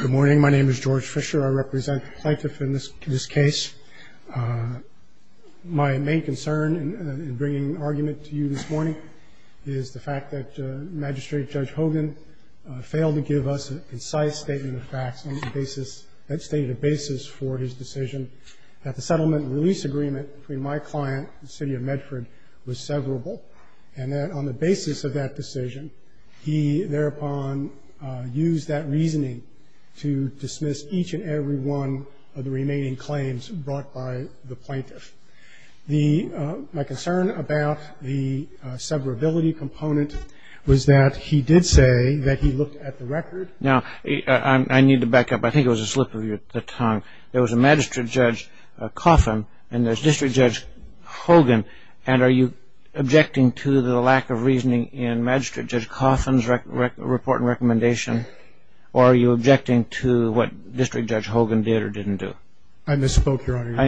Good morning, my name is George Fisher. I represent the plaintiff in this case. My main concern in bringing argument to you this morning is the fact that Magistrate Judge Hogan failed to give us a concise statement of facts that stated a basis for his decision that the settlement and release agreement between my client and the City of Medford was severable. And that on the basis of that decision, he thereupon used that reasoning to dismiss each and every one of the remaining claims brought by the plaintiff. My concern about the severability component was that he did say that he looked at the record. Now, I need to back up. I think it was a slip of the tongue. There was a Magistrate Judge Coffin and there's District Judge Hogan. And are you objecting to the lack of reasoning in Magistrate Judge Coffin's report and recommendation? Or are you objecting to what District Judge Hogan did or didn't do? I misspoke, Your Honor.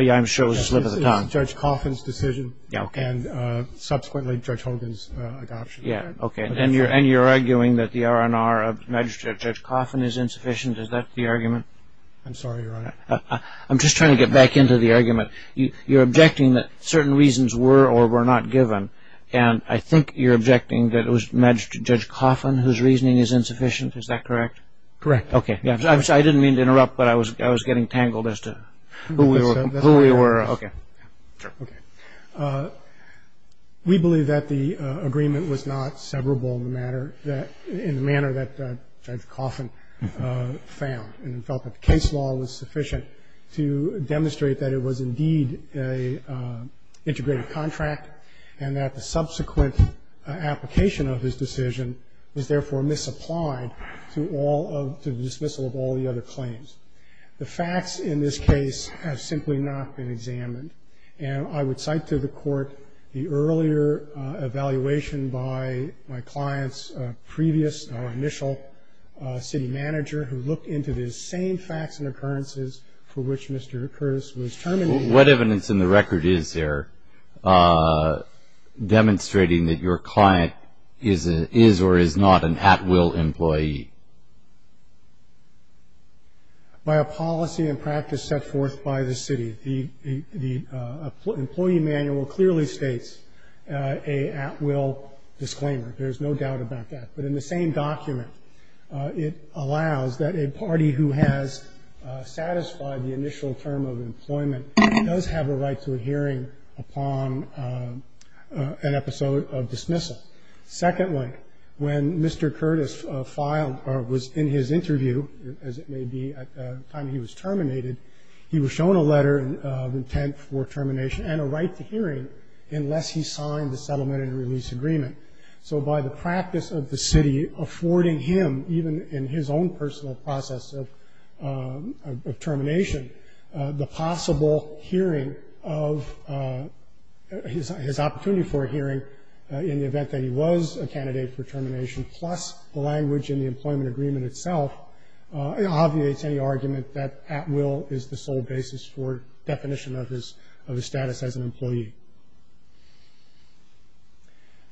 Yeah, I'm sure it was a slip of the tongue. This is Judge Coffin's decision and subsequently Judge Hogan's adoption. Yeah, okay. And you're arguing that the R&R of Magistrate Judge Coffin is insufficient? Is that the argument? I'm sorry, Your Honor. I'm just trying to get back into the argument. You're objecting that certain reasons were or were not given. And I think you're objecting that it was Magistrate Judge Coffin whose reasoning is insufficient. Is that correct? Correct. Okay. I didn't mean to interrupt, but I was getting tangled as to who we were. Okay. Okay. We believe that the agreement was not severable in the manner that Judge Coffin found and felt that the case law was sufficient to demonstrate that it was indeed an integrated contract and that the subsequent application of his decision was, therefore, misapplied to the dismissal of all the other claims. The facts in this case have simply not been examined. And I would cite to the Court the earlier evaluation by my client's previous or initial city manager who looked into the same facts and occurrences for which Mr. Curtis was terminating. What evidence in the record is there demonstrating that your client is or is not an at-will employee? By a policy and practice set forth by the city, the employee manual clearly states a at-will disclaimer. There's no doubt about that. But in the same document, it allows that a party who has satisfied the initial term of employment does have a right to a hearing upon an episode of dismissal. Secondly, when Mr. Curtis filed or was in his interview, as it may be, at the time he was terminated, he was shown a letter of intent for termination and a right to hearing unless he signed the settlement and release agreement. So by the practice of the city affording him, even in his own personal process of termination, the possible hearing of his opportunity for a hearing in the event that he was a candidate for termination, plus the language in the employment agreement itself, it obviates any argument that at-will is the sole basis for definition of his status as an employee.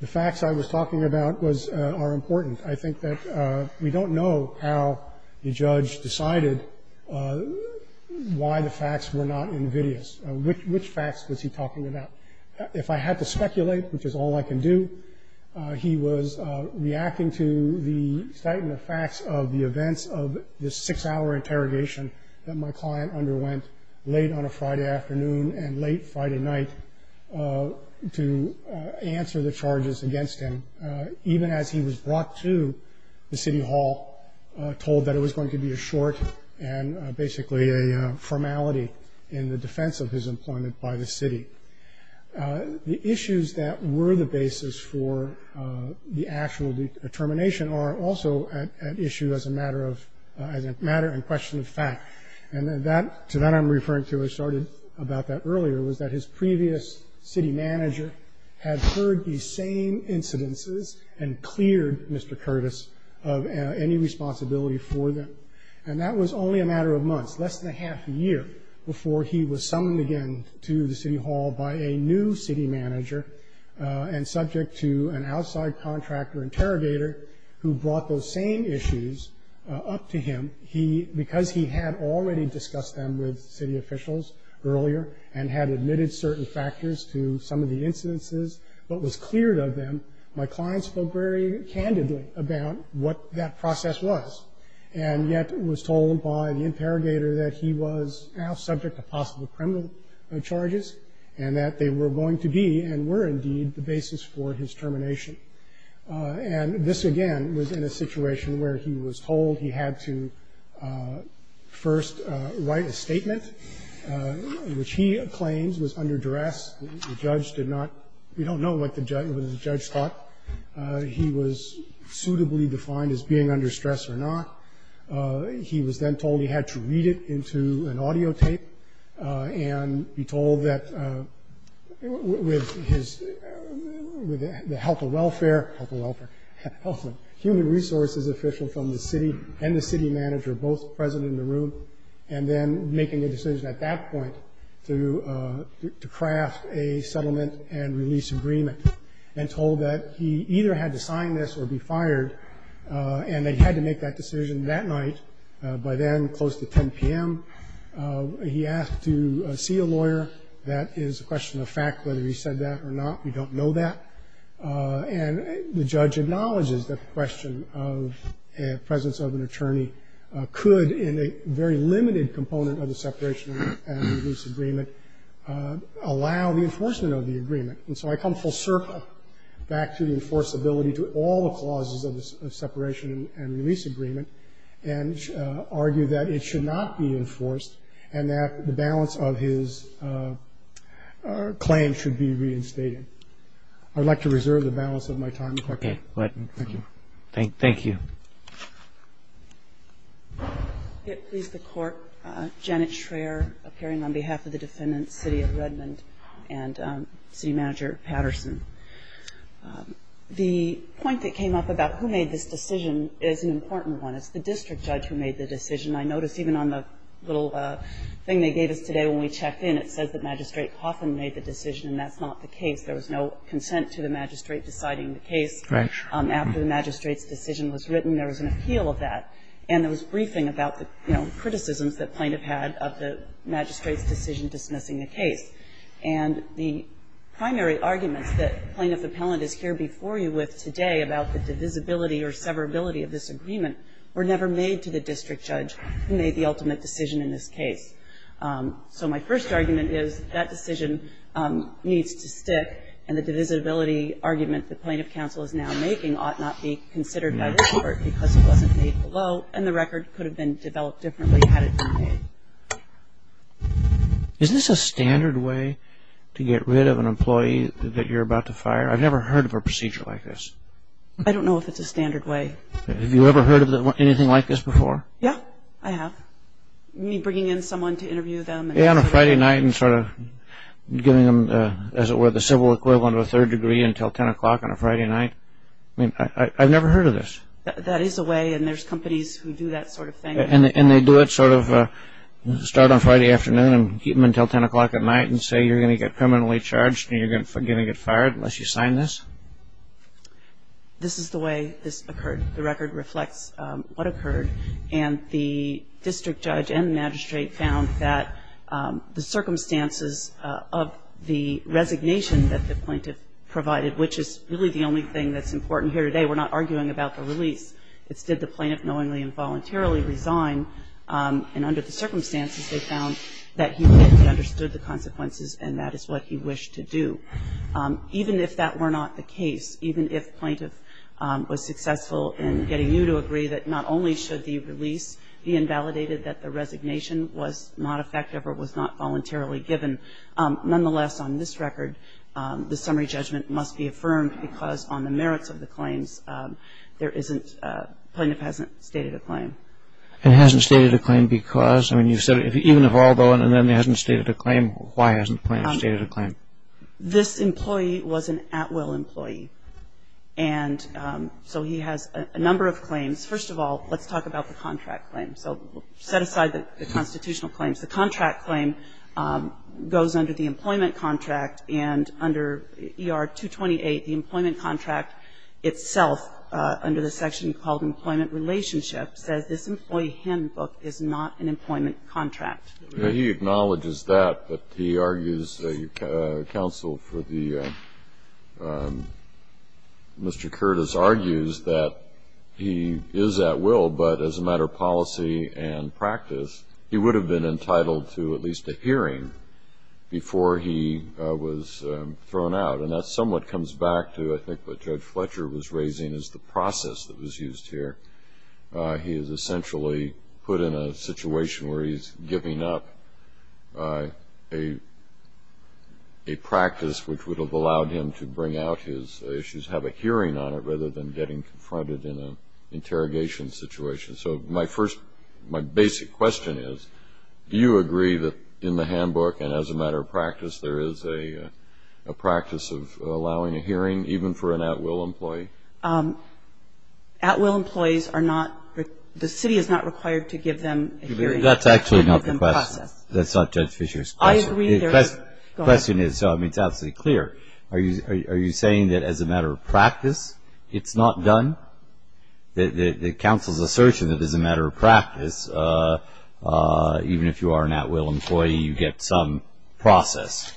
The facts I was talking about are important. I think that we don't know how the judge decided why the facts were not invidious. Which facts was he talking about? If I had to speculate, which is all I can do, he was reacting to the facts of the events of this six-hour interrogation that my client underwent late on a Friday afternoon and late Friday night to answer the charges against him, even as he was brought to the city hall told that it was going to be a short and basically a formality in the defense of his employment by the city. The issues that were the basis for the actual determination are also an issue as a matter in question of fact. And to that I'm referring to, I started about that earlier, was that his previous city manager had heard these same incidences and cleared Mr. Curtis of any responsibility for them. And that was only a matter of months, less than a half a year, before he was summoned again to the city hall by a new city manager and subject to an outside contractor interrogator who brought those same issues up to him. Because he had already discussed them with city officials earlier and had admitted certain factors to some of the incidences but was cleared of them, my client spoke very candidly about what that process was. And yet was told by the interrogator that he was now subject to possible criminal charges and that they were going to be and were indeed the basis for his termination. And this again was in a situation where he was told he had to first write a statement, which he claims was under duress. The judge did not, we don't know what the judge thought. He was suitably defined as being under stress or not. He was then told he had to read it into an audio tape and be told that with the help of human resources officials and the city manager both present in the room, and then making a decision at that point to craft a settlement and release agreement and told that he either had to sign this or be fired. And that he had to make that decision that night, by then close to 10 p.m. He asked to see a lawyer. That is a question of fact whether he said that or not. We don't know that. And the judge acknowledges the question of presence of an attorney could in a very limited component of the separation and release agreement allow the enforcement of the agreement. And so I come full circle back to the enforceability to all the clauses of the separation and release agreement and argue that it should not be enforced and that the balance of his claim should be reinstated. I would like to reserve the balance of my time. Thank you. If it please the Court, Janet Schraer, appearing on behalf of the defendants, City of Redmond, and City Manager Patterson. The point that came up about who made this decision is an important one. It's the district judge who made the decision. I noticed even on the little thing they gave us today when we checked in, it says that Magistrate Cawthon made the decision, and that's not the case. There was no consent to the magistrate deciding the case. Right. After the magistrate's decision was written, there was an appeal of that, and there was briefing about the, you know, criticisms that plaintiff had of the magistrate's decision dismissing the case. And the primary arguments that plaintiff appellant is here before you with today about the divisibility or severability of this agreement were never made to the district judge who made the ultimate decision in this case. So my first argument is that decision needs to stick, and the divisibility argument the plaintiff counsel is now making ought not be considered by this court because it wasn't made below, and the record could have been developed differently had it been made. Isn't this a standard way to get rid of an employee that you're about to fire? I've never heard of a procedure like this. I don't know if it's a standard way. Have you ever heard of anything like this before? Yeah, I have. Me bringing in someone to interview them. Yeah, on a Friday night and sort of giving them, as it were, the civil equivalent of a third degree until 10 o'clock on a Friday night. I mean, I've never heard of this. That is a way, and there's companies who do that sort of thing. And they do it sort of start on Friday afternoon and keep them until 10 o'clock at night and say you're going to get criminally charged and you're going to get fired unless you sign this? This is the way this occurred. The record reflects what occurred, and the district judge and magistrate found that the circumstances of the resignation that the plaintiff provided, which is really the only thing that's important here today. We're not arguing about the release. It's did the plaintiff knowingly and voluntarily resign, and under the circumstances they found that he understood the consequences and that is what he wished to do. Even if that were not the case, even if the plaintiff was successful in getting you to agree that not only should the release be invalidated, that the resignation was not effective or was not voluntarily given. Nonetheless, on this record, the summary judgment must be affirmed because on the merits of the claims there isn't, the plaintiff hasn't stated a claim. It hasn't stated a claim because? I mean, you said even if all of them hadn't stated a claim, why hasn't the plaintiff stated a claim? This employee was an Atwell employee, and so he has a number of claims. First of all, let's talk about the contract claim. So set aside the constitutional claims. The contract claim goes under the employment contract, and under ER 228, the employment contract itself under the section called employment relationship says this employee handbook is not an employment contract. He acknowledges that, but he argues, the counsel for Mr. Curtis argues that he is at will, but as a matter of policy and practice, he would have been entitled to at least a hearing before he was thrown out, and that somewhat comes back to I think what Judge Fletcher was raising is the process that was used here. He is essentially put in a situation where he's giving up a practice which would have allowed him to bring out his issues, have a hearing on it, rather than getting confronted in an interrogation situation. So my first, my basic question is, do you agree that in the handbook and as a matter of practice there is a practice of allowing a hearing even for an Atwell employee? Atwill employees are not, the city is not required to give them a hearing. That's actually not the question. That's not Judge Fletcher's question. I agree. The question is, I mean, it's absolutely clear. Are you saying that as a matter of practice it's not done? The counsel's assertion that as a matter of practice, even if you are an Atwill employee, you get some process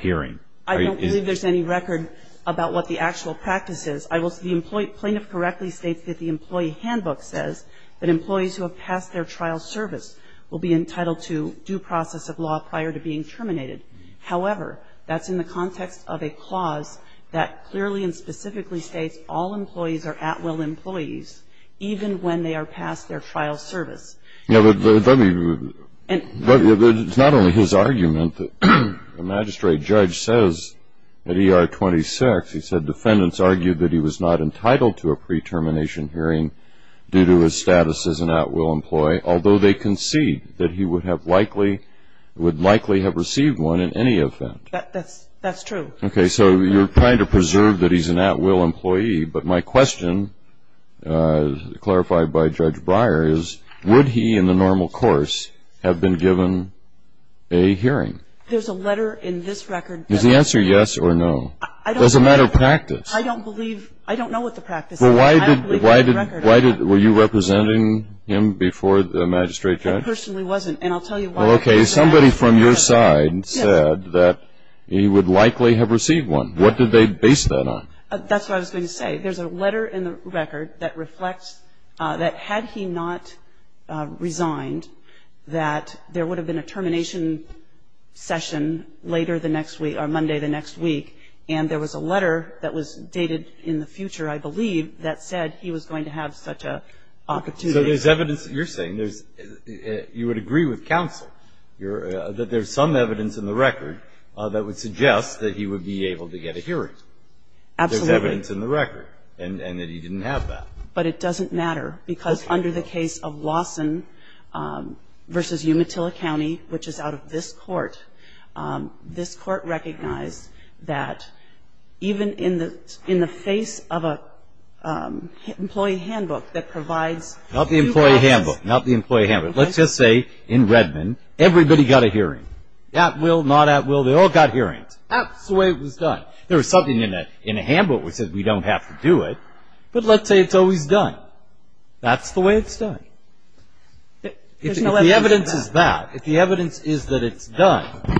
hearing. I don't believe there's any record about what the actual practice is. I will say the plaintiff correctly states that the employee handbook says that employees who have passed their trial service will be entitled to due process of law prior to being terminated. However, that's in the context of a clause that clearly and specifically states all employees are Atwill employees even when they are past their trial service. Yeah, but let me, it's not only his argument. The magistrate judge says at ER 26, he said defendants argued that he was not entitled to a pre-termination hearing due to his status as an Atwill employee, although they concede that he would likely have received one in any event. That's true. Okay. So you're trying to preserve that he's an Atwill employee. But my question, clarified by Judge Breyer, is would he in the normal course have been given a hearing? There's a letter in this record. Is the answer yes or no? It doesn't matter practice. I don't believe, I don't know what the practice is. Well, why did, why did, were you representing him before the magistrate judge? I personally wasn't. And I'll tell you why. Well, okay. Somebody from your side said that he would likely have received one. What did they base that on? That's what I was going to say. There's a letter in the record that reflects that had he not resigned, that there would have been a termination session later the next week, or Monday the next week. And there was a letter that was dated in the future, I believe, that said he was going to have such an opportunity. So there's evidence that you're saying there's, you would agree with counsel, that there's some evidence in the record that would suggest that he would be able to get a hearing. Absolutely. There's evidence in the record and that he didn't have that. But it doesn't matter because under the case of Lawson v. Umatilla County, which is out of this court, this court recognized that even in the face of an employee handbook that provides you guys. Not the employee handbook. Not the employee handbook. Let's just say in Redmond, everybody got a hearing. At will, not at will. They all got hearings. That's the way it was done. There was something in a handbook that said we don't have to do it. But let's say it's always done. That's the way it's done. If the evidence is that, if the evidence is that it's done,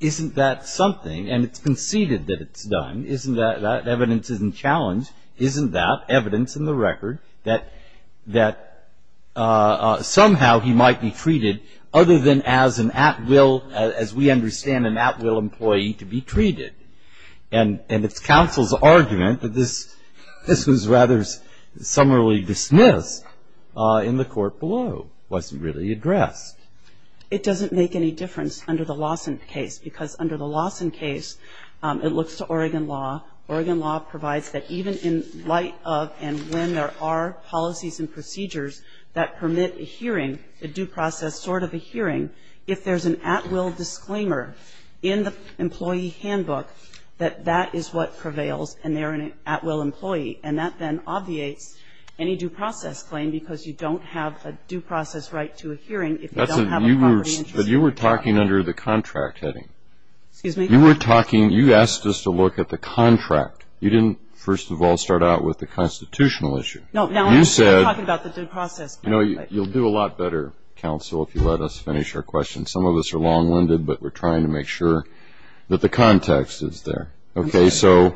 isn't that something? And it's conceded that it's done. Isn't that, that evidence isn't challenged. Isn't that evidence in the record that, that somehow he might be treated other than as an at will, as we understand an at will employee, to be treated? And it's counsel's argument that this, this was rather summarily dismissed in the court below. Wasn't really addressed. It doesn't make any difference under the Lawson case. Because under the Lawson case, it looks to Oregon law. Oregon law provides that even in light of and when there are policies and procedures that permit a hearing, a due process sort of a hearing, if there's an at will disclaimer in the employee handbook, that that is what prevails and they're an at will employee. And that then obviates any due process claim because you don't have a due process right to a hearing if you don't have a property interest. But you were talking under the contract heading. Excuse me? You were talking, you asked us to look at the contract. You didn't, first of all, start out with the constitutional issue. No, no. You said. I'm talking about the due process. You know, you'll do a lot better, counsel, if you let us finish our question. Some of us are long winded, but we're trying to make sure that the context is there. Okay. So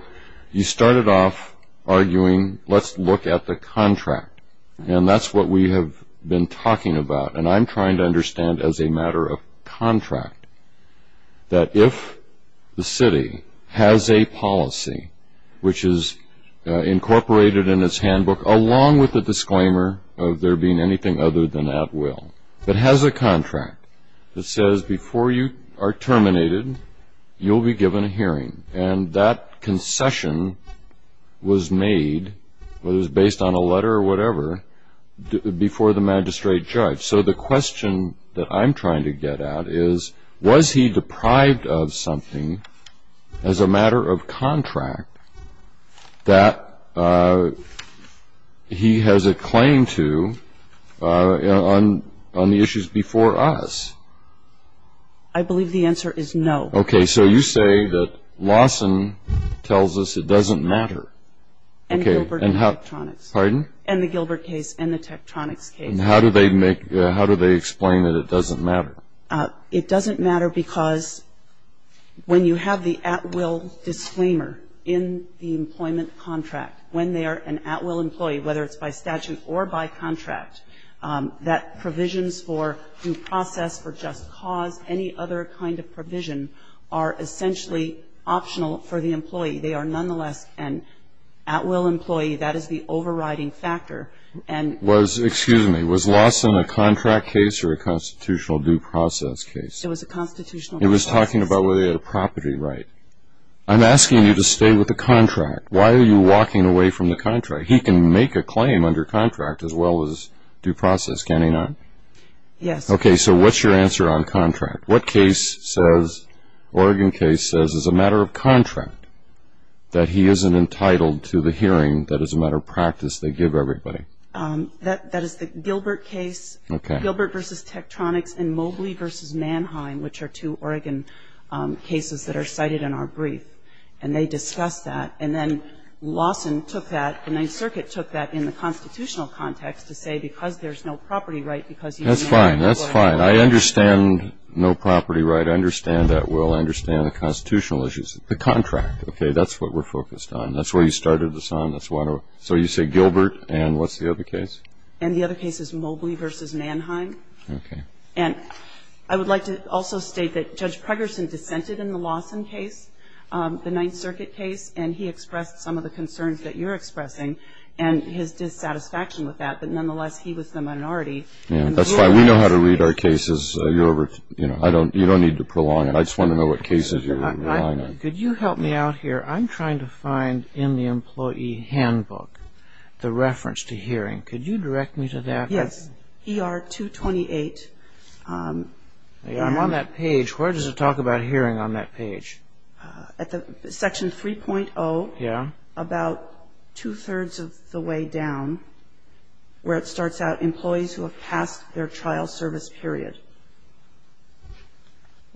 you started off arguing, let's look at the contract. And that's what we have been talking about. And I'm trying to understand as a matter of contract that if the city has a policy, which is incorporated in its handbook, along with the disclaimer of there being anything other than at will, that has a contract that says before you are terminated, you'll be given a hearing. And that concession was made, whether it was based on a letter or whatever, before the magistrate judge. So the question that I'm trying to get at is, was he deprived of something as a matter of contract that he has a claim to on the issues before us? I believe the answer is no. Okay. So you say that Lawson tells us it doesn't matter. And the Gilbert case and the Tektronix case. And how do they explain that it doesn't matter? It doesn't matter because when you have the at will disclaimer in the employment contract, when they are an at will employee, whether it's by statute or by contract, that provisions for due process, for just cause, any other kind of provision are essentially optional for the employee. They are nonetheless an at will employee. That is the overriding factor. Was, excuse me, was Lawson a contract case or a constitutional due process case? It was a constitutional due process case. He was talking about whether he had a property right. I'm asking you to stay with the contract. Why are you walking away from the contract? Anyway, he can make a claim under contract as well as due process, can he not? Yes. Okay. So what's your answer on contract? What case says, Oregon case says as a matter of contract, that he isn't entitled to the hearing that is a matter of practice they give everybody? That is the Gilbert case. Okay. Gilbert versus Tektronix and Mobley versus Mannheim, which are two Oregon cases that are cited in our brief. And they discuss that. And then Lawson took that, the Ninth Circuit took that in the constitutional context to say because there's no property right because he's an Oregon lawyer. That's fine. That's fine. I understand no property right. I understand that. We'll understand the constitutional issues. The contract. Okay. That's what we're focused on. That's where you started this on. That's why I don't. So you say Gilbert and what's the other case? And the other case is Mobley versus Mannheim. Okay. And I would like to also state that Judge Pregerson dissented in the Lawson case, the Ninth Circuit case, and he expressed some of the concerns that you're expressing and his dissatisfaction with that. But nonetheless, he was the minority. That's fine. We know how to read our cases. You don't need to prolong it. I just want to know what cases you're relying on. Could you help me out here? I'm trying to find in the employee handbook the reference to hearing. Could you direct me to that? Yes. ER 228. I'm on that page. Where does it talk about hearing on that page? Section 3.0, about two-thirds of the way down, where it starts out employees who have passed their trial service period.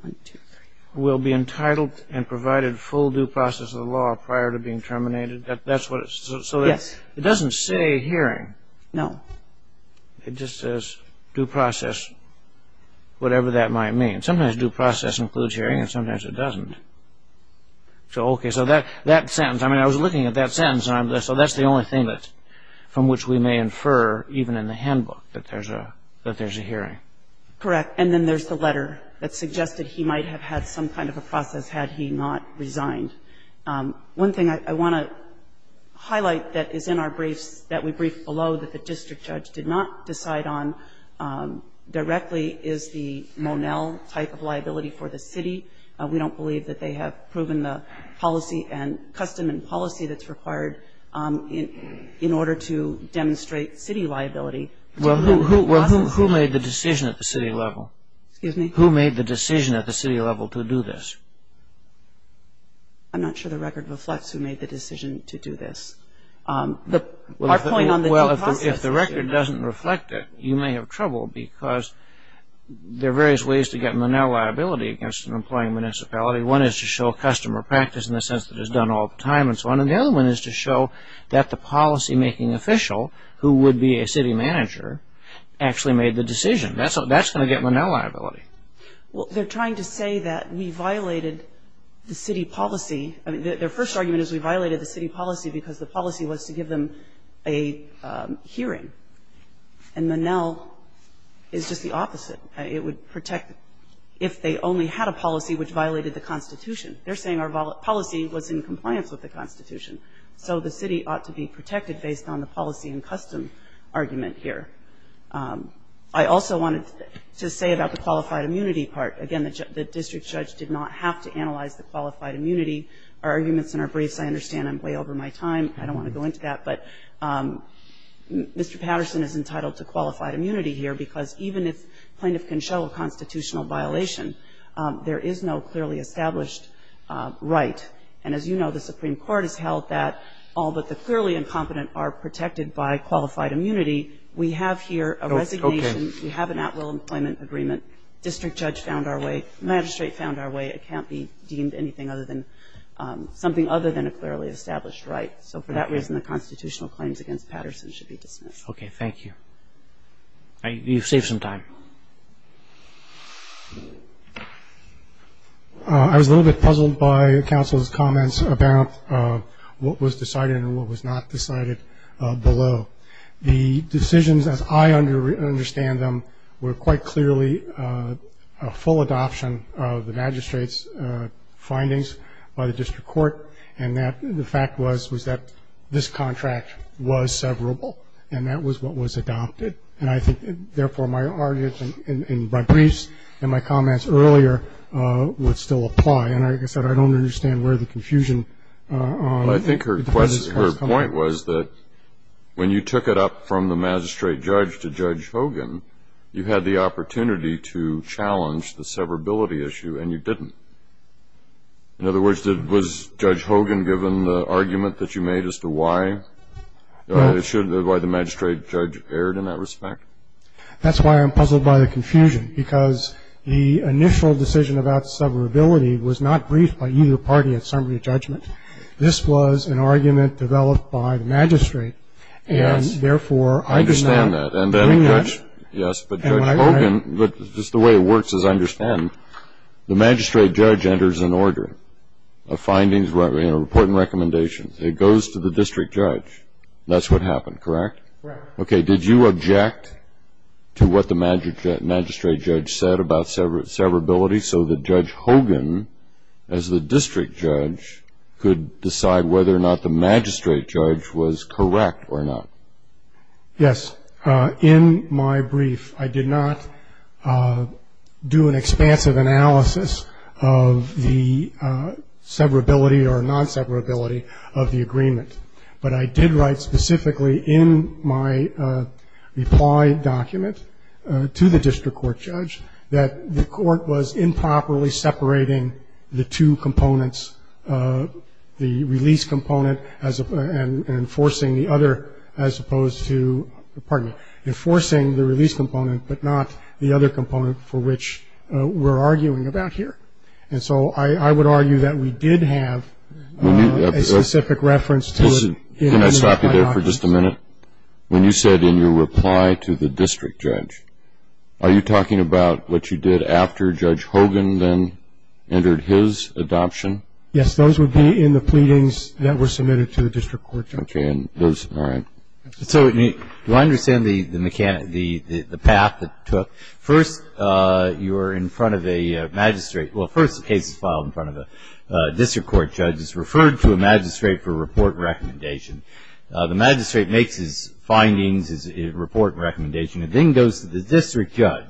One, two, three. Will be entitled and provided full due process of the law prior to being terminated. Yes. It doesn't say hearing. No. It just says due process, whatever that might mean. Sometimes due process includes hearing and sometimes it doesn't. So, okay, so that sentence, I mean, I was looking at that sentence, so that's the only thing from which we may infer, even in the handbook, that there's a hearing. Correct. And then there's the letter that suggested he might have had some kind of a process had he not resigned. One thing I want to highlight that is in our briefs, that we briefed below that the district judge did not decide on directly, is the Monell type of liability for the city. We don't believe that they have proven the policy and custom and policy that's required in order to demonstrate city liability. Well, who made the decision at the city level? Excuse me? Who made the decision at the city level to do this? I'm not sure the record reflects who made the decision to do this. Our point on the due process. Well, if the record doesn't reflect it, you may have trouble because there are various ways to get Monell liability against an employing municipality. One is to show customer practice in the sense that it's done all the time, and so on. And the other one is to show that the policymaking official, who would be a city manager, actually made the decision. That's going to get Monell liability. Well, they're trying to say that we violated the city policy. I mean, their first argument is we violated the city policy because the policy was to give them a hearing. And Monell is just the opposite. It would protect if they only had a policy which violated the Constitution. They're saying our policy was in compliance with the Constitution. So the city ought to be protected based on the policy and custom argument here. I also wanted to say about the qualified immunity part. Again, the district judge did not have to analyze the qualified immunity. Our arguments in our briefs, I understand, are way over my time. I don't want to go into that. But Mr. Patterson is entitled to qualified immunity here, because even if plaintiff can show a constitutional violation, there is no clearly established right. And as you know, the Supreme Court has held that all but the clearly incompetent are protected by qualified immunity. We have here a resignation. We have an at-will employment agreement. District judge found our way. Magistrate found our way. It can't be deemed anything other than something other than a clearly established right. So for that reason, the constitutional claims against Patterson should be dismissed. Okay, thank you. You've saved some time. I was a little bit puzzled by counsel's comments about what was decided and what was not decided below. The decisions, as I understand them, were quite clearly a full adoption of the magistrate's findings by the district court. And the fact was that this contract was severable, and that was what was adopted. And I think, therefore, my arguments and my briefs and my comments earlier would still apply. And like I said, I don't understand where the confusion is. I think her point was that when you took it up from the magistrate judge to Judge Hogan, you had the opportunity to challenge the severability issue, and you didn't. In other words, was Judge Hogan given the argument that you made as to why it should, why the magistrate judge erred in that respect? That's why I'm puzzled by the confusion, because the initial decision about severability was not briefed by either party at summary judgment. This was an argument developed by the magistrate. Yes. And, therefore, I understand that. Yes, but Judge Hogan, just the way it works is I understand. The magistrate judge enters an order of findings, reporting recommendations. It goes to the district judge. That's what happened, correct? Correct. Okay, did you object to what the magistrate judge said about severability so that Judge Hogan, as the district judge, could decide whether or not the magistrate judge was correct or not? Yes. In my brief, I did not do an expansive analysis of the severability or non-severability of the agreement, but I did write specifically in my reply document to the district court judge that the court was improperly separating the two components, the release component and enforcing the other, as opposed to, pardon me, enforcing the release component, but not the other component for which we're arguing about here. And so I would argue that we did have a specific reference to it. Can I stop you there for just a minute? When you said in your reply to the district judge, are you talking about what you did after Judge Hogan then entered his adoption? Yes, those would be in the pleadings that were submitted to the district court judge. Okay. All right. So do I understand the path it took? First, you're in front of a magistrate. Well, first the case is filed in front of a district court judge who's referred to a magistrate for a report and recommendation. The magistrate makes his findings, his report and recommendation, and then goes to the district judge.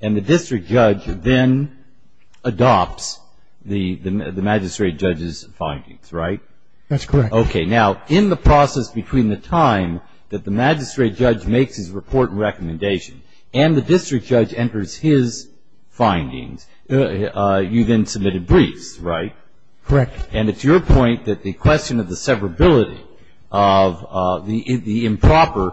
And the district judge then adopts the magistrate judge's findings, right? That's correct. Okay. Now, in the process between the time that the magistrate judge makes his report and recommendation and the district judge enters his findings, you then submitted briefs, right? Correct. And it's your point that the question of the severability of the improper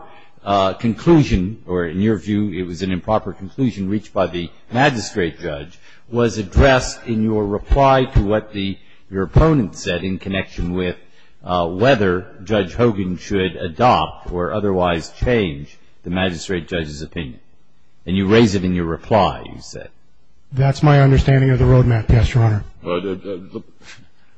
conclusion, or in your view it was an improper conclusion reached by the magistrate judge, was addressed in your reply to what your opponent said in connection with whether Judge Hogan should adopt or otherwise change the magistrate judge's opinion. And you raise it in your reply, you said. That's my understanding of the road map, yes, Your Honor.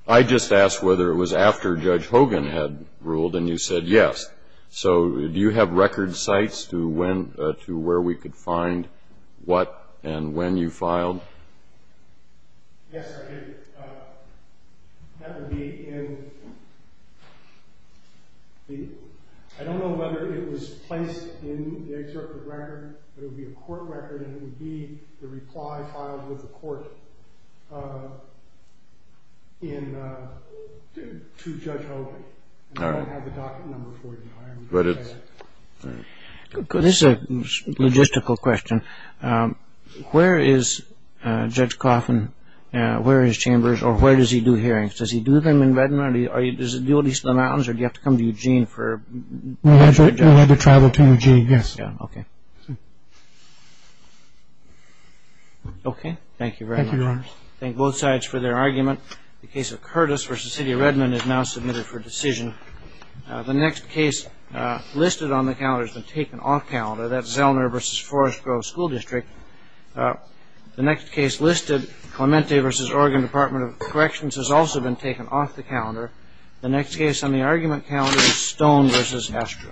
I just asked whether it was after Judge Hogan had ruled, and you said yes. So do you have record sites to where we could find what and when you filed? Yes, I did. That would be in the ‑‑ I don't know whether it was placed in the excerpt of the record, but it would be a court record, and it would be the reply filed with the court to Judge Hogan. All right. This is a logistical question. Where is Judge Coffin, where are his chambers, or where does he do hearings? Does he do them in Redmond? Does he do them in the mountains, or do you have to come to Eugene for ‑‑ We'll have to travel to Eugene, yes. Okay. Okay, thank you very much. Thank you, Your Honor. Thank both sides for their argument. The case of Curtis v. City of Redmond is now submitted for decision. The next case listed on the calendar has been taken off calendar. That's Zellner v. Forest Grove School District. The next case listed, Clemente v. Oregon Department of Corrections, has also been taken off the calendar. The next case on the argument calendar is Stone v. Astro.